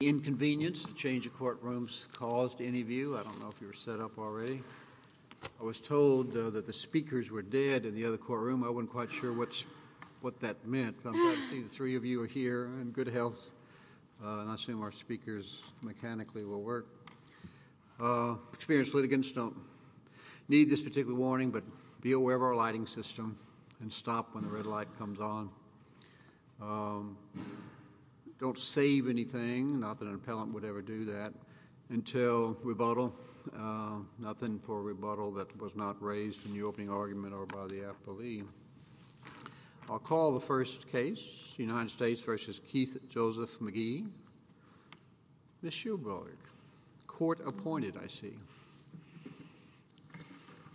inconvenience, change of courtrooms caused any view. I don't know if you're set up already. I was told that the speakers were dead in the other courtroom. I wasn't quite sure what's what that meant. See, the three of you are here in good health, and I assume our speakers mechanically will work. Uh, experience litigants don't need this particular warning, but be aware of our lighting system and stop when the red light comes on. Don't save anything, not that an appellant would ever do that, until rebuttal. Nothing for rebuttal that was not raised in the opening argument or by the appellee. I'll call the first case, United States v. Keith Joseph McGee. Ms. Shulberg. Court appointed, I see.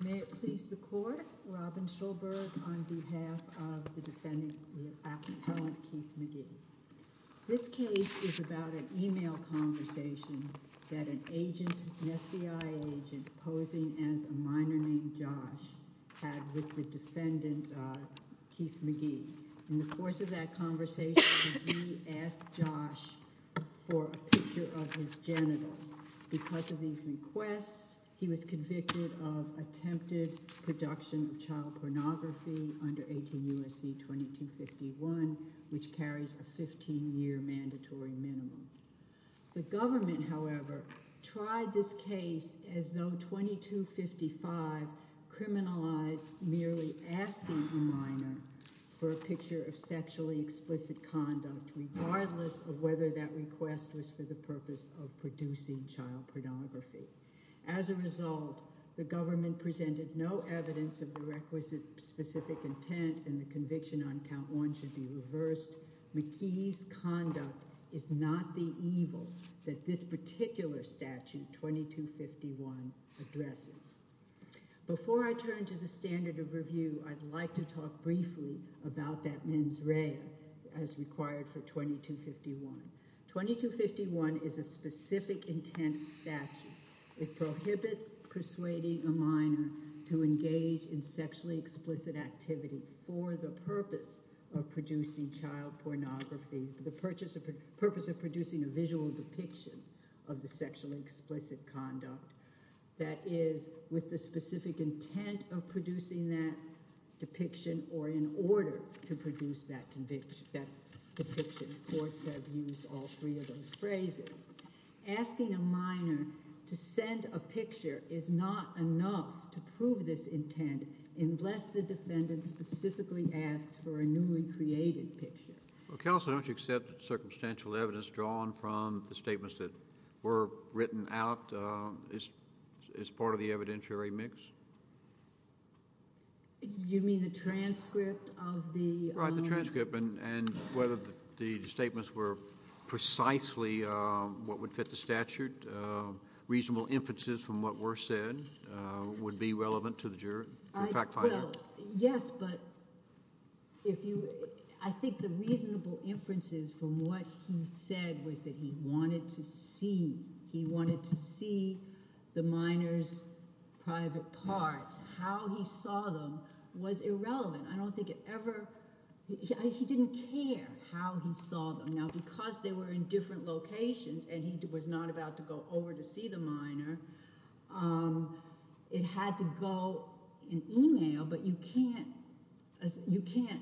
May it please the court, Robin Shulberg on behalf of the defendant, the appellant Keith McGee. This case is about an email conversation that an agent, an FBI agent, posing as a minor named Josh, had with the defendant, uh, Keith McGee. In the course of that conversation, McGee asked Josh for a picture of his genitals. Because of these requests, he was convicted of attempted production of child pornography under 18 U.S.C. 2251, which carries a 15-year mandatory minimum. The government, however, tried this case as though 2255 criminalized merely asking a minor for a picture of sexually explicit conduct, regardless of whether that request was for the purpose of producing child pornography. As a result, the government presented no evidence of the requisite specific intent and the conviction on count one should be reversed. McGee's conduct is not the evil that this particular statute, 2251, addresses. Before I turn to the standard of review, I'd like to talk briefly about that mens rea as required for 2251. 2251 is a specific intent statute. It prohibits persuading a minor to engage in sexually explicit activity for the purpose of producing child pornography, for the purpose of producing a visual depiction of the sexually explicit conduct. That is, with the specific intent of producing that depiction or in order to produce that depiction. Courts have used all three of those phrases. Asking a minor to send a picture is not enough to prove this intent unless the defendant specifically asks for a newly created picture. Counsel, don't you accept that circumstantial evidence drawn from the statements that were written out is part of the evidentiary mix? You mean the transcript of the- Right, the transcript and whether the statements were precisely what would fit the statute, reasonable inferences from what were said would be relevant to the jury, the fact finder. Yes, but I think the reasonable inferences from what he said was that he wanted to see. He wanted to see the minor's private parts. How he saw them was irrelevant. I don't think it ever- he didn't care how he saw them. Now, because they were in different locations and he was not about to go over to see the minor, it had to go in e-mail, but you can't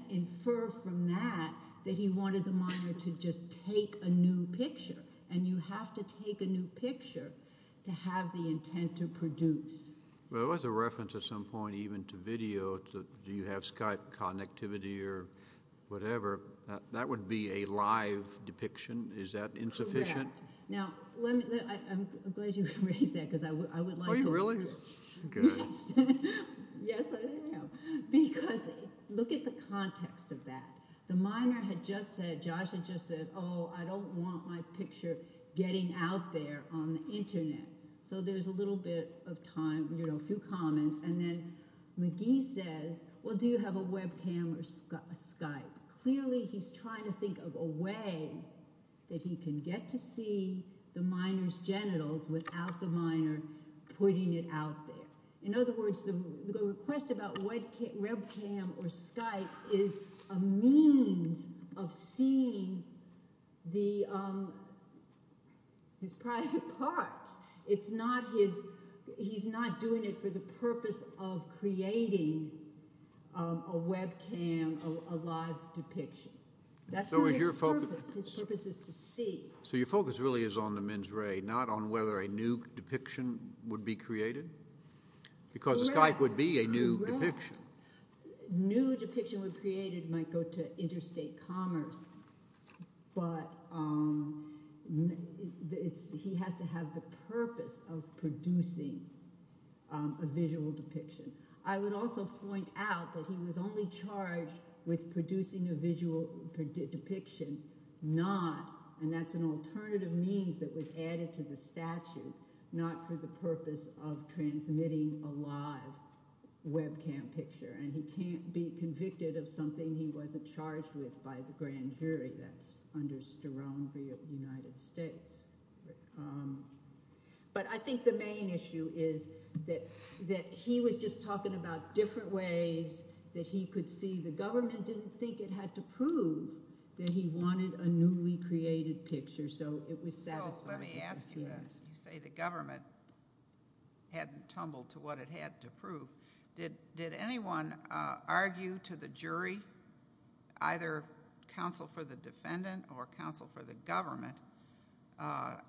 infer from that that he wanted the minor to just take a new picture. And you have to take a new picture to have the intent to produce. Well, it was a reference at some point even to video. Do you have Skype connectivity or whatever? That would be a live depiction. Is that insufficient? Correct. Now, I'm glad you raised that because I would like to- Are you really? Yes, I am. Because look at the context of that. The minor had just said, Josh had just said, oh, I don't want my picture getting out there on the Internet. So there's a little bit of time, a few comments. And then McGee says, well, do you have a webcam or Skype? Clearly he's trying to think of a way that he can get to see the minor's genitals without the minor putting it out there. In other words, the request about webcam or Skype is a means of seeing his private parts. It's not his-he's not doing it for the purpose of creating a webcam, a live depiction. That's not his purpose. His purpose is to see. So your focus really is on the men's ray, not on whether a new depiction would be created? Correct. Because Skype would be a new depiction. Correct. New depiction when created might go to interstate commerce, but it's-he has to have the purpose of producing a visual depiction. I would also point out that he was only charged with producing a visual depiction, not-and that's an alternative means that was added to the statute-not for the purpose of transmitting a live webcam picture. And he can't be convicted of something he wasn't charged with by the grand jury. That's under Sterling v. United States. But I think the main issue is that he was just talking about different ways that he could see. The government didn't think it had to prove that he wanted a newly created picture, so it was satisfying. Counsel, let me ask you this. You say the government hadn't tumbled to what it had to prove. Did anyone argue to the jury, either counsel for the defendant or counsel for the government,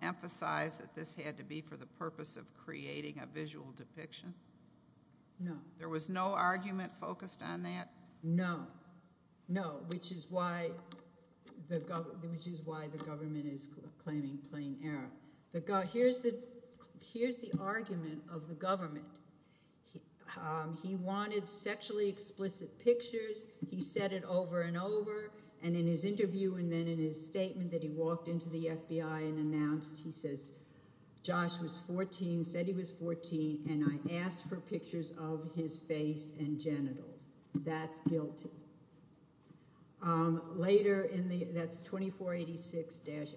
emphasize that this had to be for the purpose of creating a visual depiction? No. There was no argument focused on that? No, no, which is why the government is claiming plain error. Here's the argument of the government. He wanted sexually explicit pictures. He said it over and over. And in his interview and then in his statement that he walked into the FBI and announced, he says, Josh was 14, said he was 14, and I asked for pictures of his face and genitals. That's guilty. Later, that's 2486-87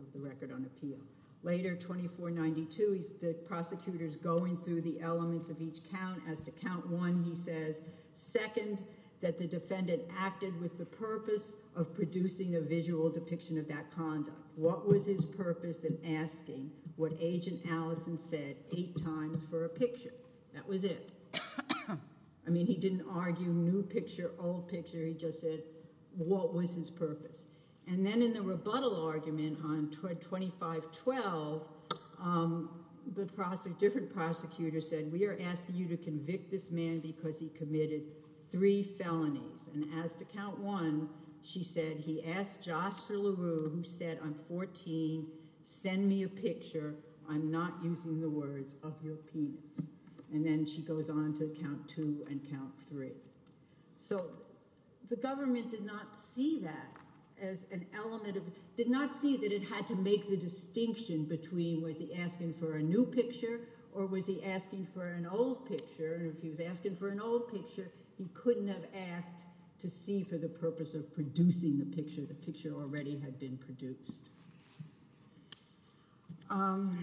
of the record on appeal. Later, 2492, the prosecutor's going through the elements of each count. As to count one, he says, second, that the defendant acted with the purpose of producing a visual depiction of that conduct. What was his purpose in asking what Agent Allison said eight times for a picture? That was it. I mean, he didn't argue new picture, old picture. He just said, what was his purpose? And then in the rebuttal argument on 2512, the different prosecutor said, we are asking you to convict this man because he committed three felonies. And as to count one, she said, he asked Joshua LaRue, who said on 14, send me a picture. I'm not using the words of your penis. And then she goes on to count two and count three. So the government did not see that as an element of – did not see that it had to make the distinction between was he asking for a new picture or was he asking for an old picture? If he was asking for an old picture, he couldn't have asked to see for the purpose of producing the picture. The picture already had been produced. On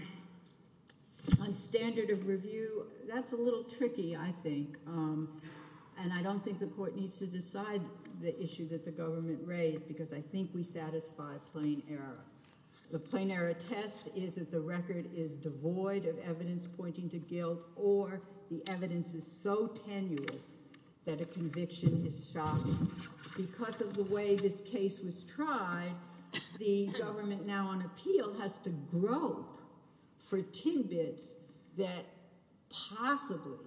standard of review, that's a little tricky, I think. And I don't think the court needs to decide the issue that the government raised because I think we satisfy plain error. The plain error test is that the record is devoid of evidence pointing to guilt or the evidence is so tenuous that a conviction is shocking. Because of the way this case was tried, the government now on appeal has to grope for tidbits that possibly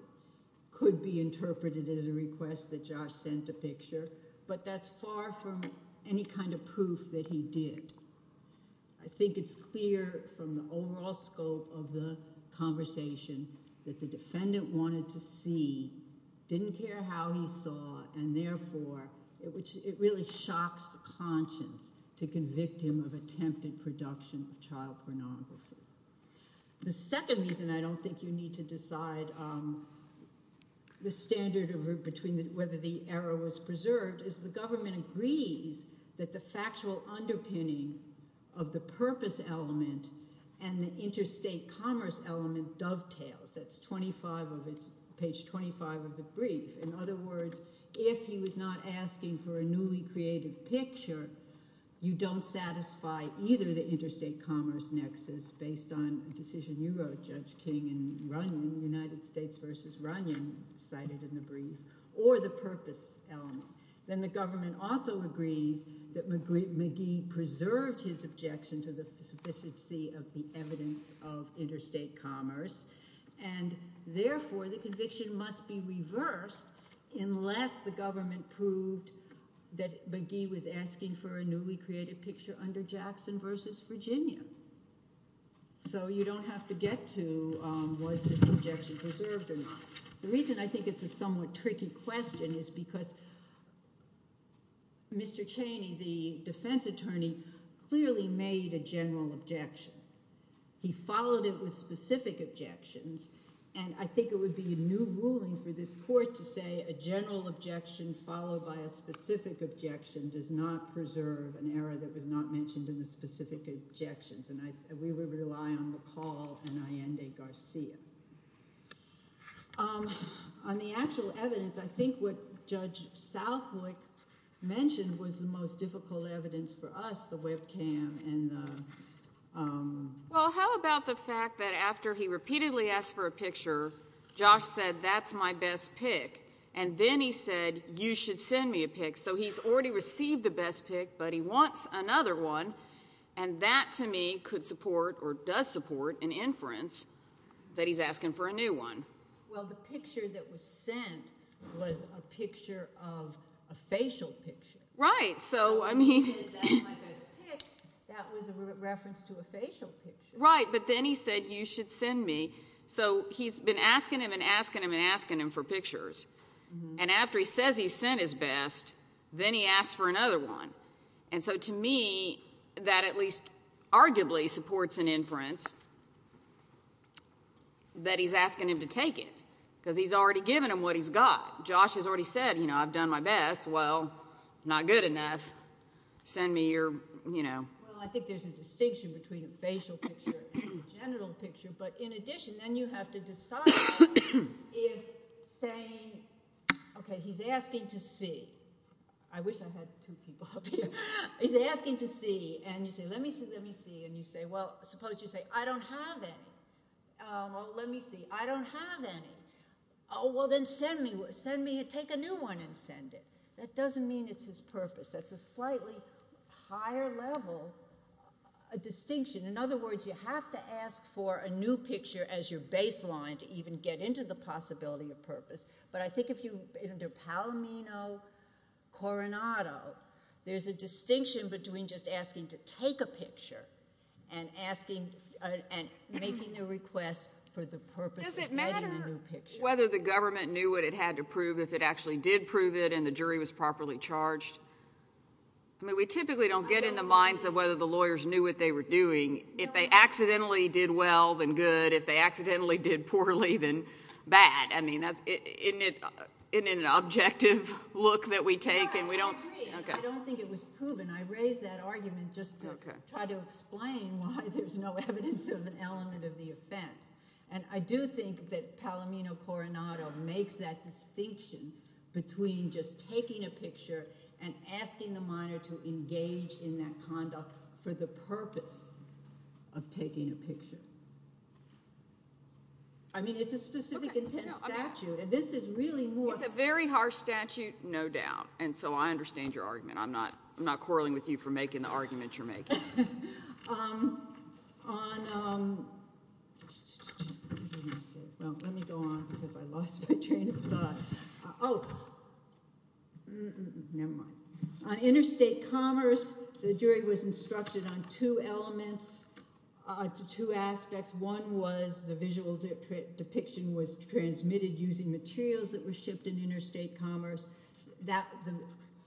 could be interpreted as a request that Josh sent a picture. But that's far from any kind of proof that he did. I think it's clear from the overall scope of the conversation that the defendant wanted to see, didn't care how he saw, and therefore it really shocks the conscience to convict him of attempted production of child pornography. The second reason I don't think you need to decide whether the error was preserved is the government agrees that the factual underpinning of the purpose element and the interstate commerce element dovetails. That's page 25 of the brief. In other words, if he was not asking for a newly created picture, you don't satisfy either the interstate commerce nexus based on a decision you wrote, Judge King and Runyon, United States versus Runyon, cited in the brief, or the purpose element. Then the government also agrees that McGee preserved his objection to the sophisticacy of the evidence of interstate commerce, and therefore the conviction must be reversed unless the government proved that McGee was asking for a newly created picture under Jackson versus Virginia. So you don't have to get to was this objection preserved or not. The reason I think it's a somewhat tricky question is because Mr. Cheney, the defense attorney, clearly made a general objection. He followed it with specific objections, and I think it would be a new ruling for this court to say a general objection followed by a specific objection does not preserve an error that was not mentioned in the specific objections. And we would rely on McCall and Allende-Garcia. On the actual evidence, I think what Judge Southwick mentioned was the most difficult evidence for us, the webcam and the— Well, the picture that was sent was a picture of a facial picture. Right, so I mean— That was a reference to a facial picture. Right, but then he said, you should send me. So he's been asking him and asking him and asking him for pictures. And after he says he sent his best, then he asks for another one. And so to me, that at least arguably supports an inference that he's asking him to take it because he's already given him what he's got. Josh has already said, you know, I've done my best. Well, not good enough. Send me your, you know— Well, I think there's a distinction between a facial picture and a genital picture. But in addition, then you have to decide if saying, okay, he's asking to see. I wish I had two people up here. He's asking to see. And you say, let me see, let me see. And you say, well, suppose you say, I don't have any. Oh, well, let me see. I don't have any. Oh, well, then send me. Take a new one and send it. That doesn't mean it's his purpose. That's a slightly higher level distinction. In other words, you have to ask for a new picture as your baseline to even get into the possibility of purpose. But I think if you—under Palomino-Coronado, there's a distinction between just asking to take a picture and asking—and making a request for the purpose of getting a new picture. Does it matter whether the government knew what it had to prove if it actually did prove it and the jury was properly charged? I mean, we typically don't get in the minds of whether the lawyers knew what they were doing. If they accidentally did well, then good. If they accidentally did poorly, then bad. I mean, isn't it an objective look that we take? No, I agree. I don't think it was proven. I raised that argument just to try to explain why there's no evidence of an element of the offense. And I do think that Palomino-Coronado makes that distinction between just taking a picture and asking the minor to engage in that conduct for the purpose of taking a picture. I mean, it's a specific intent statute, and this is really more— It's a very harsh statute, no doubt. And so I understand your argument. I'm not quarreling with you for making the argument you're making. On—well, let me go on because I lost my train of thought. Oh, never mind. On interstate commerce, the jury was instructed on two elements, two aspects. One was the visual depiction was transmitted using materials that were shipped in interstate commerce.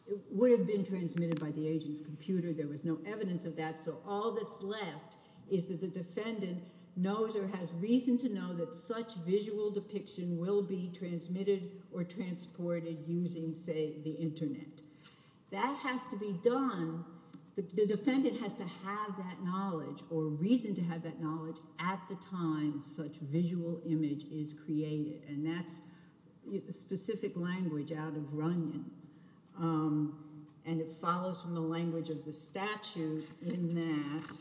It would have been transmitted by the agent's computer. There was no evidence of that. So all that's left is that the defendant knows or has reason to know that such visual depiction will be transmitted or transported using, say, the internet. That has to be done—the defendant has to have that knowledge or reason to have that knowledge at the time such visual image is created. And that's specific language out of Runyon. And it follows from the language of the statute in that—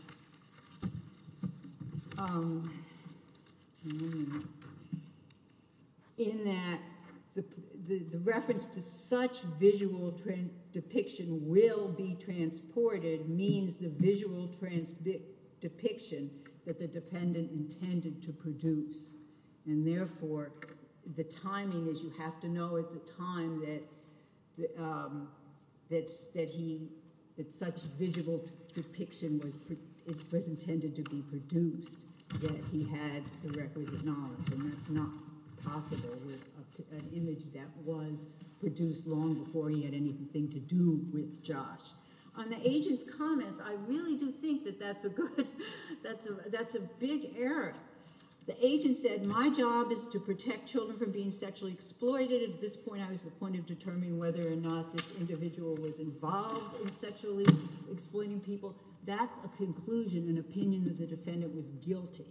in that the reference to such visual depiction will be transported means the visual depiction that the dependent intended to produce. And therefore, the timing is you have to know at the time that he—that such visual depiction was intended to be produced, that he had the requisite knowledge. And that's not possible with an image that was produced long before he had anything to do with Josh. On the agent's comments, I really do think that that's a good—that's a big error. The agent said my job is to protect children from being sexually exploited. At this point, I was the point of determining whether or not this individual was involved in sexually exploiting people. That's a conclusion, an opinion that the defendant was guilty.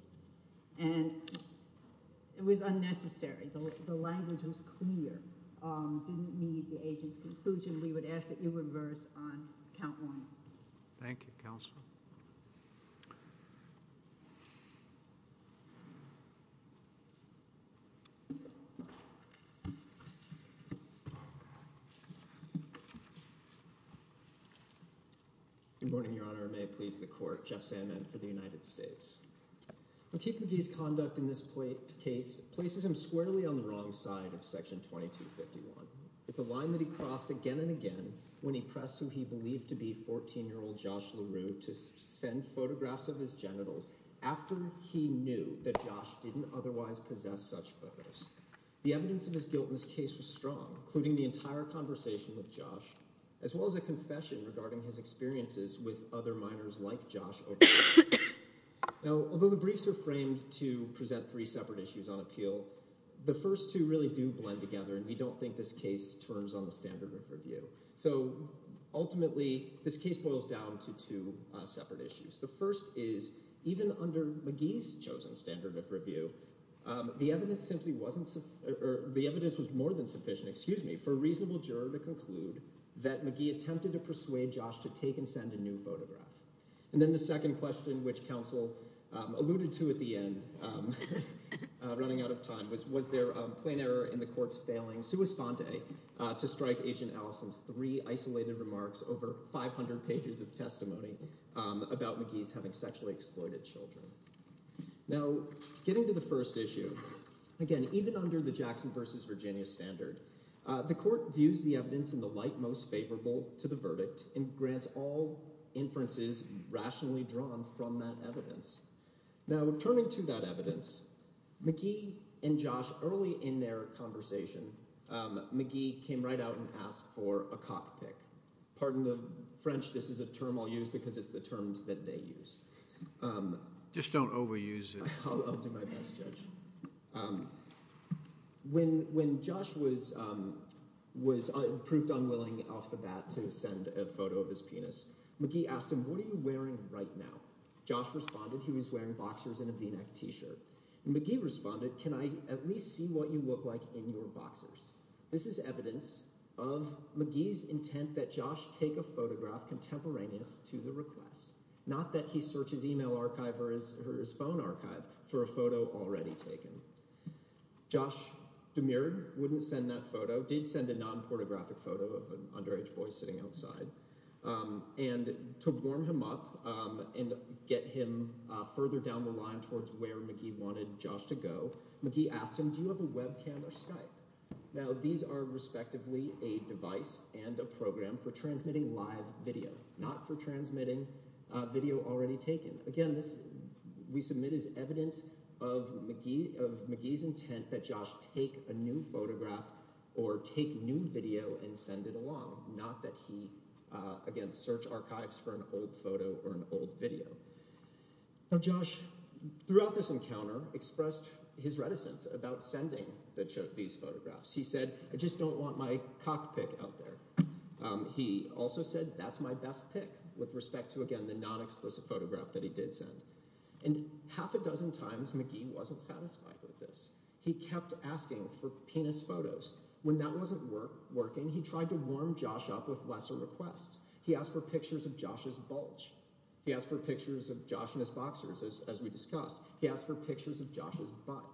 And it was unnecessary. The language was clear. It didn't meet the agent's conclusion. We would ask that you reverse on count one. Thank you, counsel. Thank you. Good morning, Your Honor. May it please the court. Jeff Sandman for the United States. O'Keefe McGee's conduct in this case places him squarely on the wrong side of Section 2251. It's a line that he crossed again and again when he pressed who he believed to be 14-year-old Josh LaRue to send photographs of his genitals after he knew that Josh didn't otherwise possess such photos. The evidence of his guilt in this case was strong, including the entire conversation with Josh, as well as a confession regarding his experiences with other minors like Josh over the years. Although the briefs are framed to present three separate issues on appeal, the first two really do blend together, and we don't think this case turns on the standard of review. So ultimately, this case boils down to two separate issues. The first is even under McGee's chosen standard of review, the evidence simply wasn't – or the evidence was more than sufficient, excuse me, for a reasonable juror to conclude that McGee attempted to persuade Josh to take and send a new photograph. And then the second question, which counsel alluded to at the end, running out of time, was was there a plain error in the court's failing sua sponte to strike Agent Allison's three isolated remarks over 500 pages of testimony about McGee's having sexually exploited children. Now, getting to the first issue, again, even under the Jackson v. Virginia standard, the court views the evidence in the light most favorable to the verdict and grants all inferences rationally drawn from that evidence. Now, returning to that evidence, McGee and Josh, early in their conversation, McGee came right out and asked for a cockpick. Pardon the French. This is a term I'll use because it's the terms that they use. Just don't overuse it. I'll do my best, Judge. When Josh was proved unwilling off the bat to send a photo of his penis, McGee asked him, what are you wearing right now? Josh responded he was wearing boxers and a V-neck t-shirt. And McGee responded, can I at least see what you look like in your boxers? This is evidence of McGee's intent that Josh take a photograph contemporaneous to the request, not that he search his email archive or his phone archive for a photo already taken. Josh demurred, wouldn't send that photo, did send a non-pornographic photo of an underage boy sitting outside. And to warm him up and get him further down the line towards where McGee wanted Josh to go, McGee asked him, do you have a webcam or Skype? Now these are respectively a device and a program for transmitting live video, not for transmitting video already taken. Again, this we submit is evidence of McGee's intent that Josh take a new photograph or take new video and send it along, not that he, again, search archives for an old photo or an old video. Now Josh, throughout this encounter, expressed his reticence about sending these photographs. He said, I just don't want my cockpit out there. He also said, that's my best pick with respect to, again, the non-explicit photograph that he did send. And half a dozen times, McGee wasn't satisfied with this. He kept asking for penis photos. When that wasn't working, he tried to warm Josh up with lesser requests. He asked for pictures of Josh's bulge. He asked for pictures of Josh and his boxers, as we discussed. He asked for pictures of Josh's butt.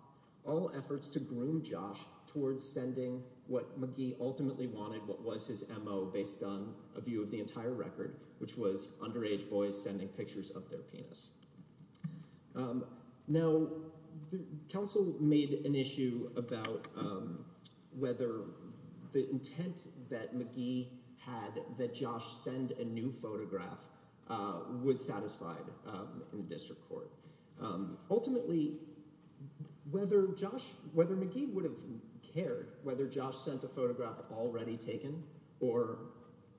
All efforts to groom Josh towards sending what McGee ultimately wanted, what was his MO based on a view of the entire record, which was underage boys sending pictures of their penis. Now the counsel made an issue about whether the intent that McGee had that Josh send a new photograph was satisfied in the district court. Ultimately, whether Josh – whether McGee would have cared whether Josh sent a photograph already taken or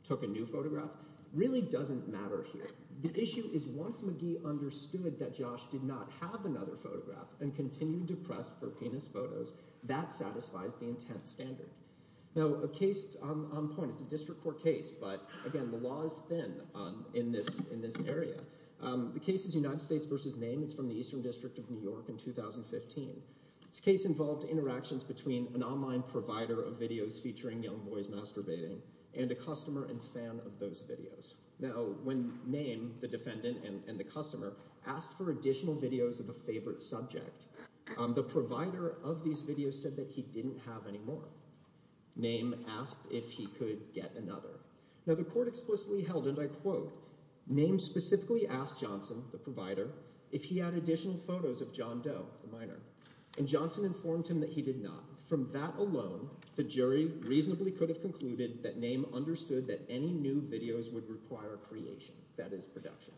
took a new photograph really doesn't matter here. The issue is once McGee understood that Josh did not have another photograph and continued to press for penis photos, that satisfies the intent standard. Now a case on point. It's a district court case, but again, the law is thin in this area. The case is United States v. Name. It's from the Eastern District of New York in 2015. This case involved interactions between an online provider of videos featuring young boys masturbating and a customer and fan of those videos. Now when Name, the defendant and the customer, asked for additional videos of a favorite subject, the provider of these videos said that he didn't have any more. Name asked if he could get another. Now the court explicitly held, and I quote, Name specifically asked Johnson, the provider, if he had additional photos of John Doe, the minor, and Johnson informed him that he did not. From that alone, the jury reasonably could have concluded that Name understood that any new videos would require creation, that is, production.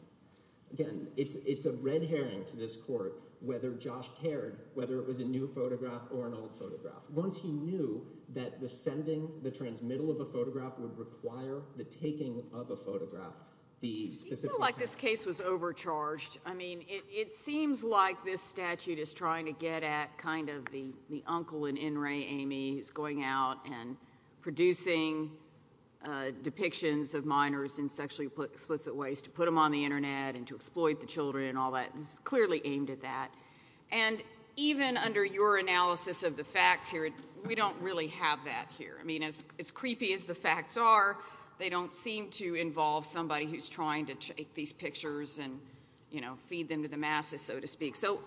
Again, it's a red herring to this court whether Josh cared whether it was a new photograph or an old photograph. Once he knew that the sending, the transmittal of a photograph would require the taking of a photograph, the specific – I feel like this case was overcharged. I mean it seems like this statute is trying to get at kind of the uncle in N. Ray, Amy, who's going out and producing depictions of minors in sexually explicit ways to put them on the Internet and to exploit the children and all that. This is clearly aimed at that. And even under your analysis of the facts here, we don't really have that here. I mean as creepy as the facts are, they don't seem to involve somebody who's trying to take these pictures and feed them to the masses, so to speak. So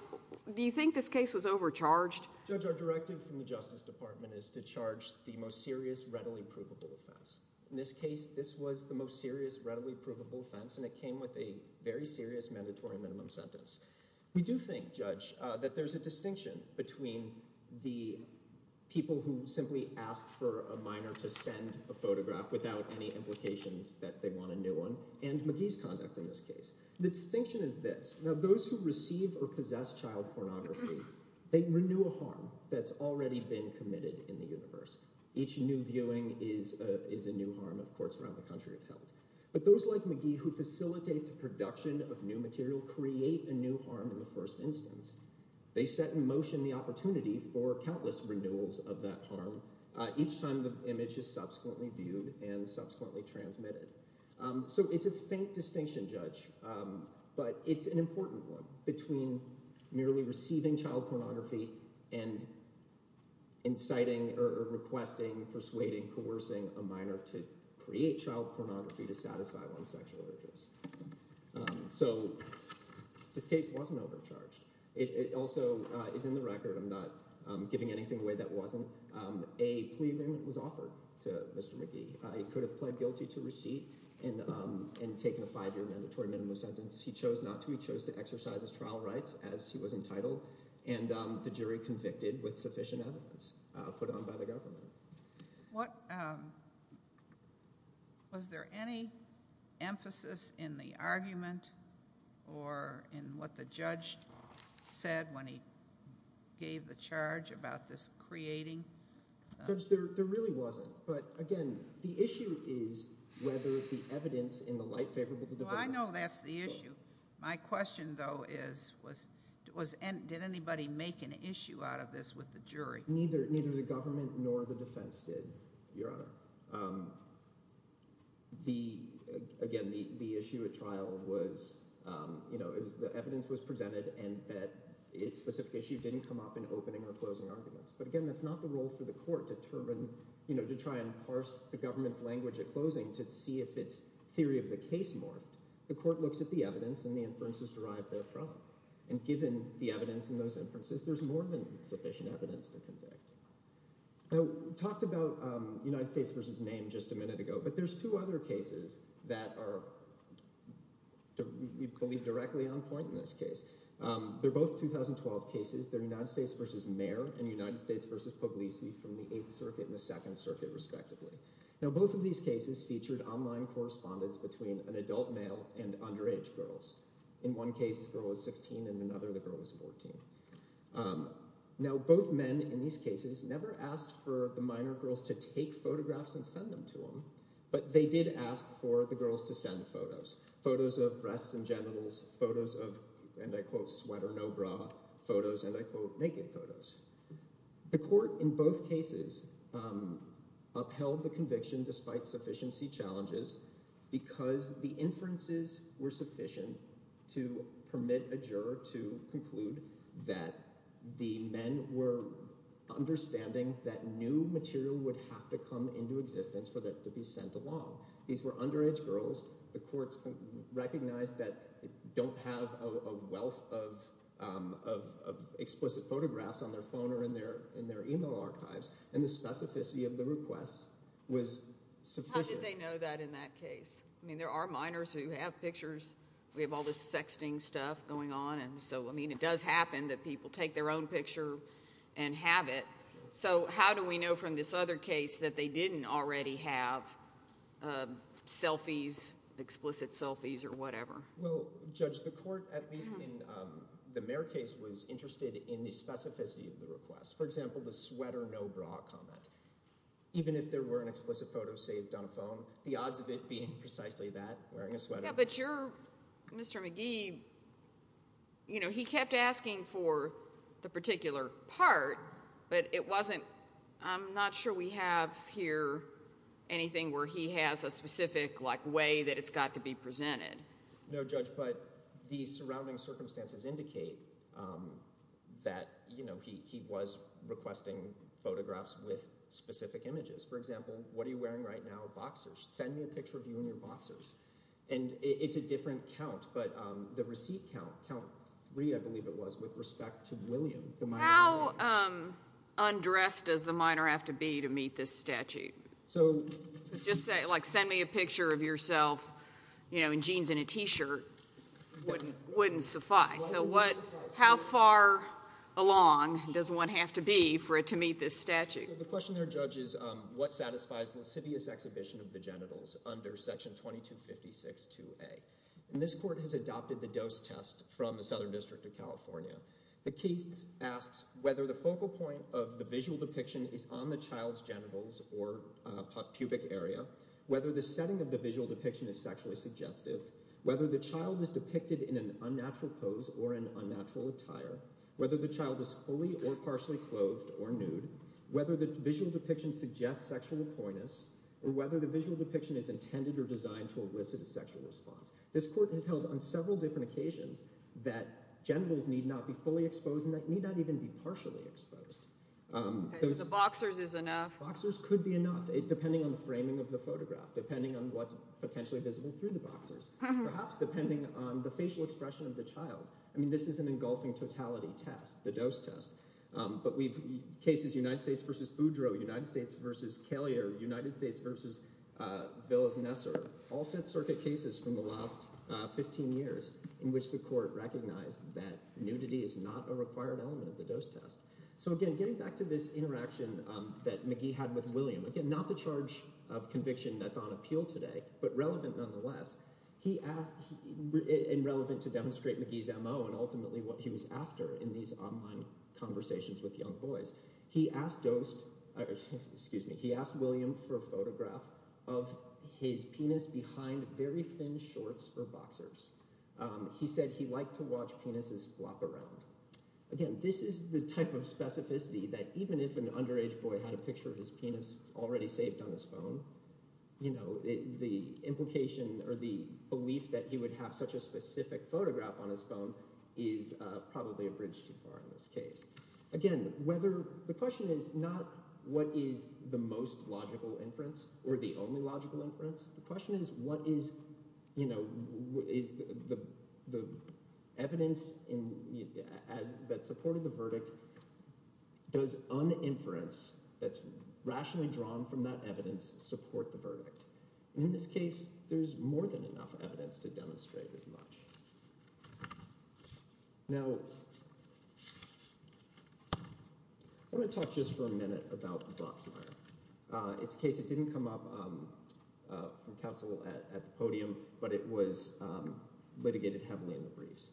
do you think this case was overcharged? Judge, our directive from the Justice Department is to charge the most serious readily provable offense. In this case, this was the most serious readily provable offense, and it came with a very serious mandatory minimum sentence. We do think, Judge, that there's a distinction between the people who simply ask for a minor to send a photograph without any implications that they want a new one and McGee's conduct in this case. The distinction is this. Now those who receive or possess child pornography, they renew a harm that's already been committed in the universe. Each new viewing is a new harm, of course, around the country of health. But those like McGee who facilitate the production of new material create a new harm in the first instance. They set in motion the opportunity for countless renewals of that harm each time the image is subsequently viewed and subsequently transmitted. So it's a faint distinction, Judge, but it's an important one between merely receiving child pornography and inciting or requesting, persuading, coercing a minor to create child pornography to satisfy one's sexual interest. So this case wasn't overcharged. It also is in the record. I'm not giving anything away that wasn't. A plea agreement was offered to Mr. McGee. He could have pled guilty to receipt and taken a five-year mandatory minimum sentence. He chose not to. He chose to exercise his trial rights as he was entitled, and the jury convicted with sufficient evidence put on by the government. Was there any emphasis in the argument or in what the judge said when he gave the charge about this creating? Judge, there really wasn't. But again, the issue is whether the evidence in the light favorable to the judge. Well, I know that's the issue. My question, though, is did anybody make an issue out of this with the jury? Neither the government nor the defense did, Your Honor. Again, the issue at trial was the evidence was presented and that specific issue didn't come up in opening or closing arguments. But again, that's not the role for the court to try and parse the government's language at closing to see if its theory of the case morphed. The court looks at the evidence and the inferences derived therefrom. And given the evidence in those inferences, there's more than sufficient evidence to convict. I talked about United States v. Name just a minute ago, but there's two other cases that are, we believe, directly on point in this case. They're both 2012 cases. They're United States v. Mayer and United States v. Puglisi from the Eighth Circuit and the Second Circuit, respectively. Now, both of these cases featured online correspondence between an adult male and underage girls. In one case, the girl was 16, and in another, the girl was 14. Now, both men in these cases never asked for the minor girls to take photographs and send them to them, but they did ask for the girls to send photos. Photos of breasts and genitals, photos of, and I quote, sweater, no bra, photos, and I quote, naked photos. The court in both cases upheld the conviction despite sufficiency challenges because the inferences were sufficient to permit a juror to conclude that the men were understanding that new material would have to come into existence for that to be sent along. These were underage girls. The courts recognized that they don't have a wealth of explicit photographs on their phone or in their email archives, and the specificity of the requests was sufficient. How did they know that in that case? I mean there are minors who have pictures. We have all this sexting stuff going on, and so, I mean, it does happen that people take their own picture and have it. So, how do we know from this other case that they didn't already have selfies, explicit selfies, or whatever? Well, Judge, the court, at least in the Mare case, was interested in the specificity of the request. For example, the sweater, no bra comment. Even if there were an explicit photo saved on a phone, the odds of it being precisely that, wearing a sweater. Yeah, but your – Mr. McGee, you know, he kept asking for the particular part, but it wasn't – I'm not sure we have here anything where he has a specific, like, way that it's got to be presented. No, Judge, but the surrounding circumstances indicate that, you know, he was requesting photographs with specific images. For example, what are you wearing right now? Boxers. Send me a picture of you in your boxers. And it's a different count, but the receipt count, count three, I believe it was, with respect to William, the minor. How undressed does the minor have to be to meet this statute? So – Just say, like, send me a picture of yourself, you know, in jeans and a t-shirt, wouldn't suffice. So, what – how far along does one have to be for it to meet this statute? So the question there, Judge, is what satisfies the lascivious exhibition of the genitals under Section 2256-2A? And this court has adopted the dose test from the Southern District of California. The case asks whether the focal point of the visual depiction is on the child's genitals or pubic area, whether the setting of the visual depiction is sexually suggestive, whether the child is depicted in an unnatural pose or an unnatural attire, whether the child is fully or partially clothed or nude, whether the visual depiction suggests sexual appointments, or whether the visual depiction is intended or designed to elicit a sexual response. This court has held on several different occasions that genitals need not be fully exposed and that need not even be partially exposed. The boxers is enough. Boxers could be enough, depending on the framing of the photograph, depending on what's potentially visible through the boxers, perhaps depending on the facial expression of the child. I mean, this is an engulfing totality test, the dose test. But we've – cases United States v. Boudreau, United States v. Kellier, United States v. Villas-Nessar, all Fifth Circuit cases from the last 15 years in which the court recognized that nudity is not a required element of the dose test. So, again, getting back to this interaction that McGee had with William, again, not the charge of conviction that's on appeal today but relevant nonetheless. And relevant to demonstrate McGee's MO and ultimately what he was after in these online conversations with young boys. He asked William for a photograph of his penis behind very thin shorts or boxers. He said he liked to watch penises flop around. Again, this is the type of specificity that even if an underage boy had a picture of his penis already saved on his phone, the implication or the belief that he would have such a specific photograph on his phone is probably a bridge too far in this case. Again, whether – the question is not what is the most logical inference or the only logical inference. The question is what is the evidence that supported the verdict. Does un-inference that's rationally drawn from that evidence support the verdict? And in this case, there's more than enough evidence to demonstrate as much. Now, I want to talk just for a minute about the Broxmire. It's a case that didn't come up from counsel at the podium, but it was litigated heavily in the briefs.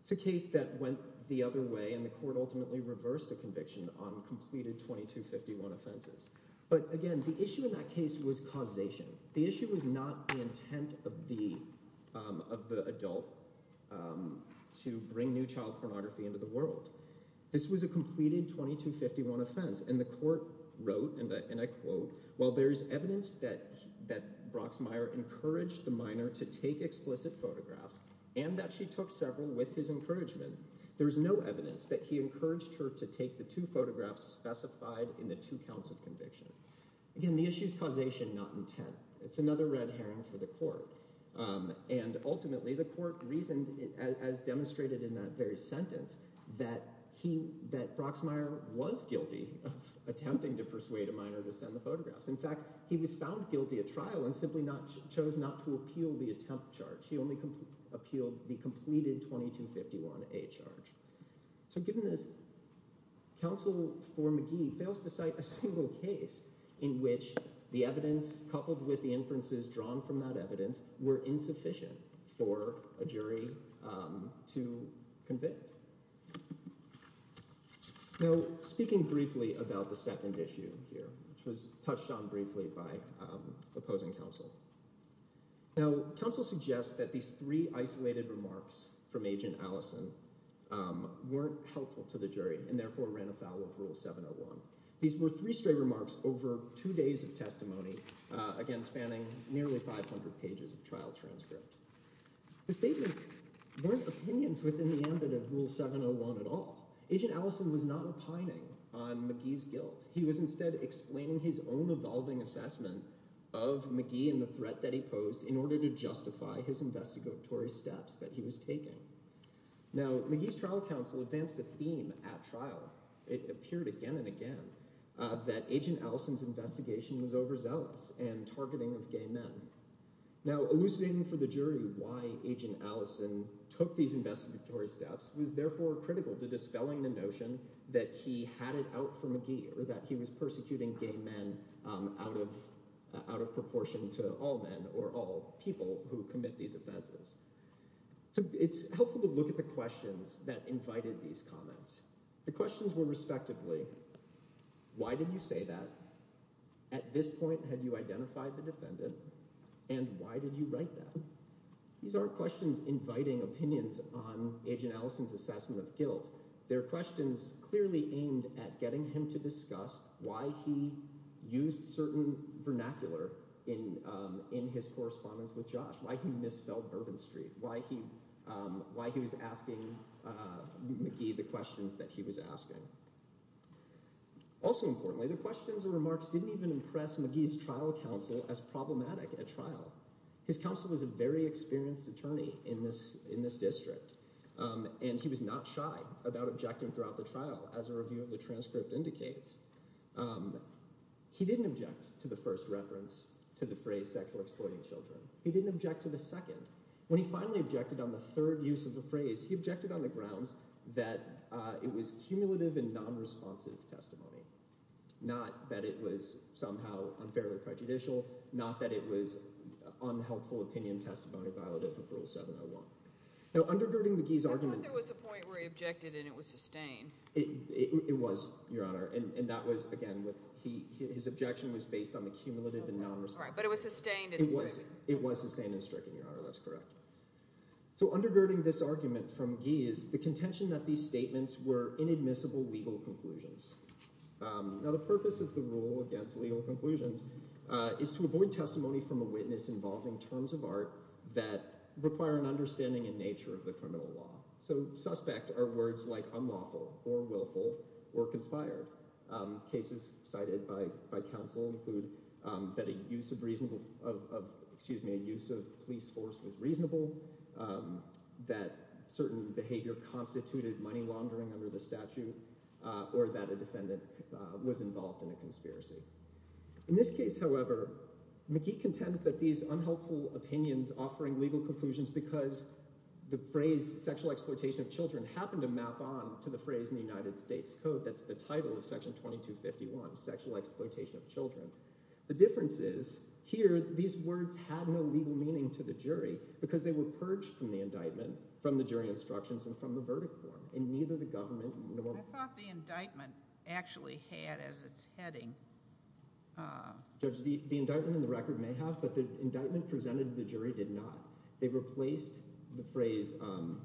It's a case that went the other way and the court ultimately reversed the conviction on completed 2251 offenses. But, again, the issue in that case was causation. The issue was not the intent of the adult to bring new child pornography into the world. This was a completed 2251 offense, and the court wrote, and I quote, While there is evidence that Broxmire encouraged the minor to take explicit photographs and that she took several with his encouragement, there is no evidence that he encouraged her to take the two photographs specified in the two counts of conviction. Again, the issue is causation, not intent. It's another red herring for the court. And ultimately, the court reasoned, as demonstrated in that very sentence, that Broxmire was guilty of attempting to persuade a minor to send the photographs. In fact, he was found guilty at trial and simply chose not to appeal the attempt charge. He only appealed the completed 2251A charge. So given this, counsel for McGee fails to cite a single case in which the evidence coupled with the inferences drawn from that evidence were insufficient for a jury to convict. Now, speaking briefly about the second issue here, which was touched on briefly by opposing counsel. Now, counsel suggests that these three isolated remarks from Agent Allison weren't helpful to the jury and therefore ran afoul of Rule 701. These were three stray remarks over two days of testimony, again, spanning nearly 500 pages of trial transcript. The statements weren't opinions within the ambit of Rule 701 at all. Agent Allison was not opining on McGee's guilt. He was instead explaining his own evolving assessment of McGee and the threat that he posed in order to justify his investigatory steps that he was taking. Now, McGee's trial counsel advanced a theme at trial. It appeared again and again that Agent Allison's investigation was overzealous and targeting of gay men. Now, elucidating for the jury why Agent Allison took these investigatory steps was therefore critical to dispelling the notion that he had it out for McGee or that he was persecuting gay men out of proportion to all men or all people who commit these offenses. So it's helpful to look at the questions that invited these comments. The questions were respectively, why did you say that? At this point, had you identified the defendant? And why did you write that? These aren't questions inviting opinions on Agent Allison's assessment of guilt. They're questions clearly aimed at getting him to discuss why he used certain vernacular in his correspondence with Josh, why he misspelled Bourbon Street, why he was asking McGee the questions that he was asking. Also importantly, the questions and remarks didn't even impress McGee's trial counsel as problematic at trial. His counsel was a very experienced attorney in this district, and he was not shy about objecting throughout the trial as a review of the transcript indicates. He didn't object to the first reference to the phrase sexual exploiting children. He didn't object to the second. When he finally objected on the third use of the phrase, he objected on the grounds that it was cumulative and nonresponsive testimony, not that it was somehow unfairly prejudicial, not that it was unhelpful opinion testimony violative of Rule 701. Now, undergirding McGee's argument – I thought there was a point where he objected and it was sustained. It was, Your Honor, and that was, again, with – his objection was based on the cumulative and nonresponsive – All right, but it was sustained – It was sustained and stricken, Your Honor. That's correct. So undergirding this argument from McGee is the contention that these statements were inadmissible legal conclusions. Now, the purpose of the rule against legal conclusions is to avoid testimony from a witness involving terms of art that require an understanding in nature of the criminal law. So suspect are words like unlawful or willful or conspired. Cases cited by counsel include that a use of reasonable – excuse me, a use of police force was reasonable, that certain behavior constituted money laundering under the statute, or that a defendant was involved in a conspiracy. In this case, however, McGee contends that these unhelpful opinions offering legal conclusions because the phrase sexual exploitation of children happened to map on to the phrase in the United States Code. That's the title of Section 2251, sexual exploitation of children. The difference is here these words had no legal meaning to the jury because they were purged from the indictment from the jury instructions and from the verdict form, and neither the government nor – What about the indictment actually had as its heading? Judge, the indictment and the record may have, but the indictment presented to the jury did not. They replaced the phrase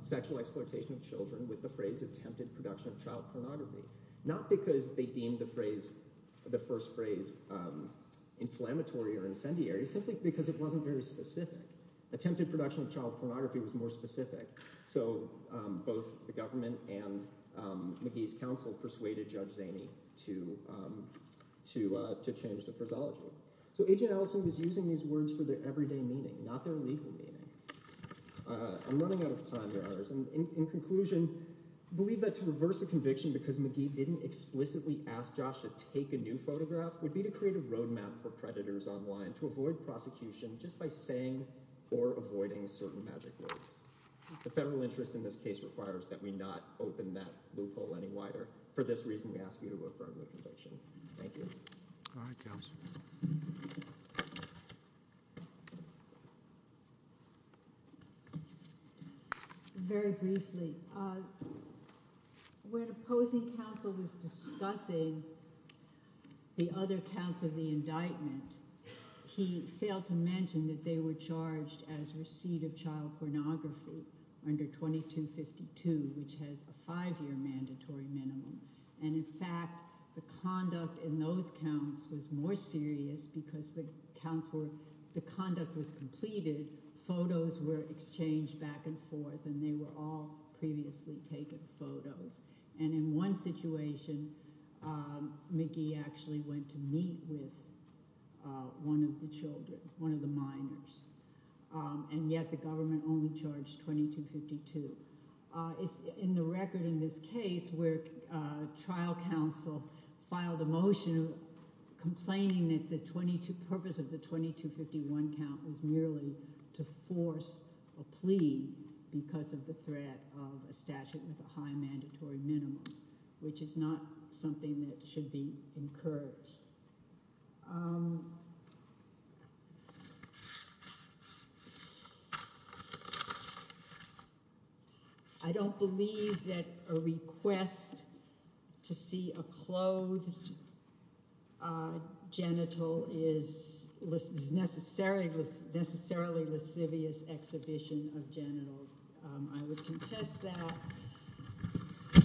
sexual exploitation of children with the phrase attempted production of child pornography, not because they deemed the phrase – the first phrase inflammatory or incendiary, simply because it wasn't very specific. Attempted production of child pornography was more specific, so both the government and McGee's counsel persuaded Judge Zaney to change the phraseology. So Agent Ellison was using these words for their everyday meaning, not their legal meaning. I'm running out of time here, others. In conclusion, I believe that to reverse a conviction because McGee didn't explicitly ask Josh to take a new photograph would be to create a roadmap for creditors online to avoid prosecution just by saying or avoiding certain magic words. The federal interest in this case requires that we not open that loophole any wider. For this reason, we ask you to refer to the conviction. Thank you. All right. Very briefly. When opposing counsel was discussing the other counts of the indictment, he failed to mention that they were charged as receipt of child pornography under 2252, which has a five-year mandatory minimum. In fact, the conduct in those counts was more serious because the conduct was completed, photos were exchanged back and forth, and they were all previously taken photos. In one situation, McGee actually went to meet with one of the children, one of the minors, and yet the government only charged 2252. It's in the record in this case where trial counsel filed a motion complaining that the purpose of the 2251 count was merely to force a plea because of the threat of a statute with a high mandatory minimum, which is not something that should be encouraged. I don't believe that a request to see a clothed genital is necessarily a lascivious exhibition of genitals. I would contest that.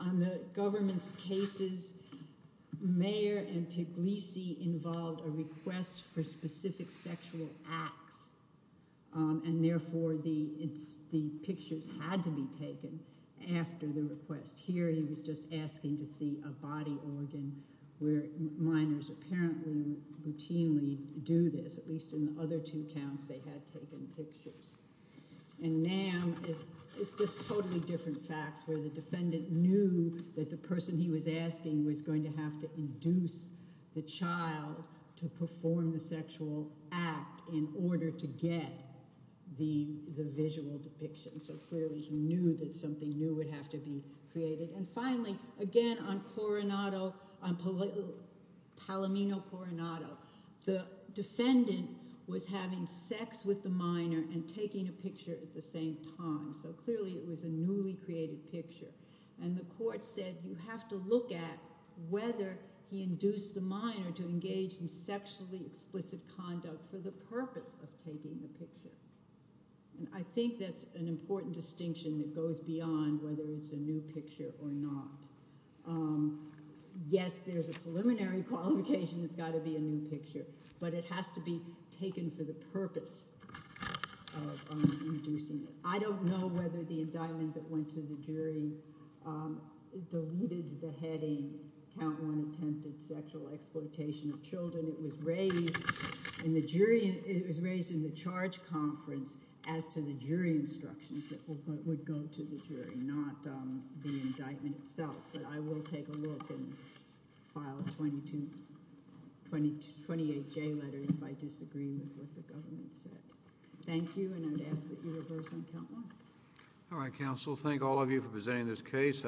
On the government's cases, Mayer and Piglisi involved a request for specific sexual acts, and therefore the pictures had to be taken after the request. Here he was just asking to see a body organ where minors apparently routinely do this. At least in the other two counts, they had taken pictures. And now it's just totally different facts where the defendant knew that the person he was asking was going to have to induce the child to perform the sexual act in order to get the visual depiction. So clearly he knew that something new would have to be created. And finally, again on Palomino Coronado, the defendant was having sex with the minor and taking a picture at the same time. So clearly it was a newly created picture. And the court said you have to look at whether he induced the minor to engage in sexually explicit conduct for the purpose of taking the picture. I think that's an important distinction that goes beyond whether it's a new picture or not. Yes, there's a preliminary qualification it's got to be a new picture, but it has to be taken for the purpose of inducing it. I don't know whether the indictment that went to the jury deleted the heading, count one attempted sexual exploitation of children. It was raised in the charge conference as to the jury instructions that would go to the jury, not the indictment itself. But I will take a look and file a 28-J letter if I disagree with what the government said. Thank you, and I'd ask that you reverse on count one. All right, counsel. Thank all of you for presenting this case.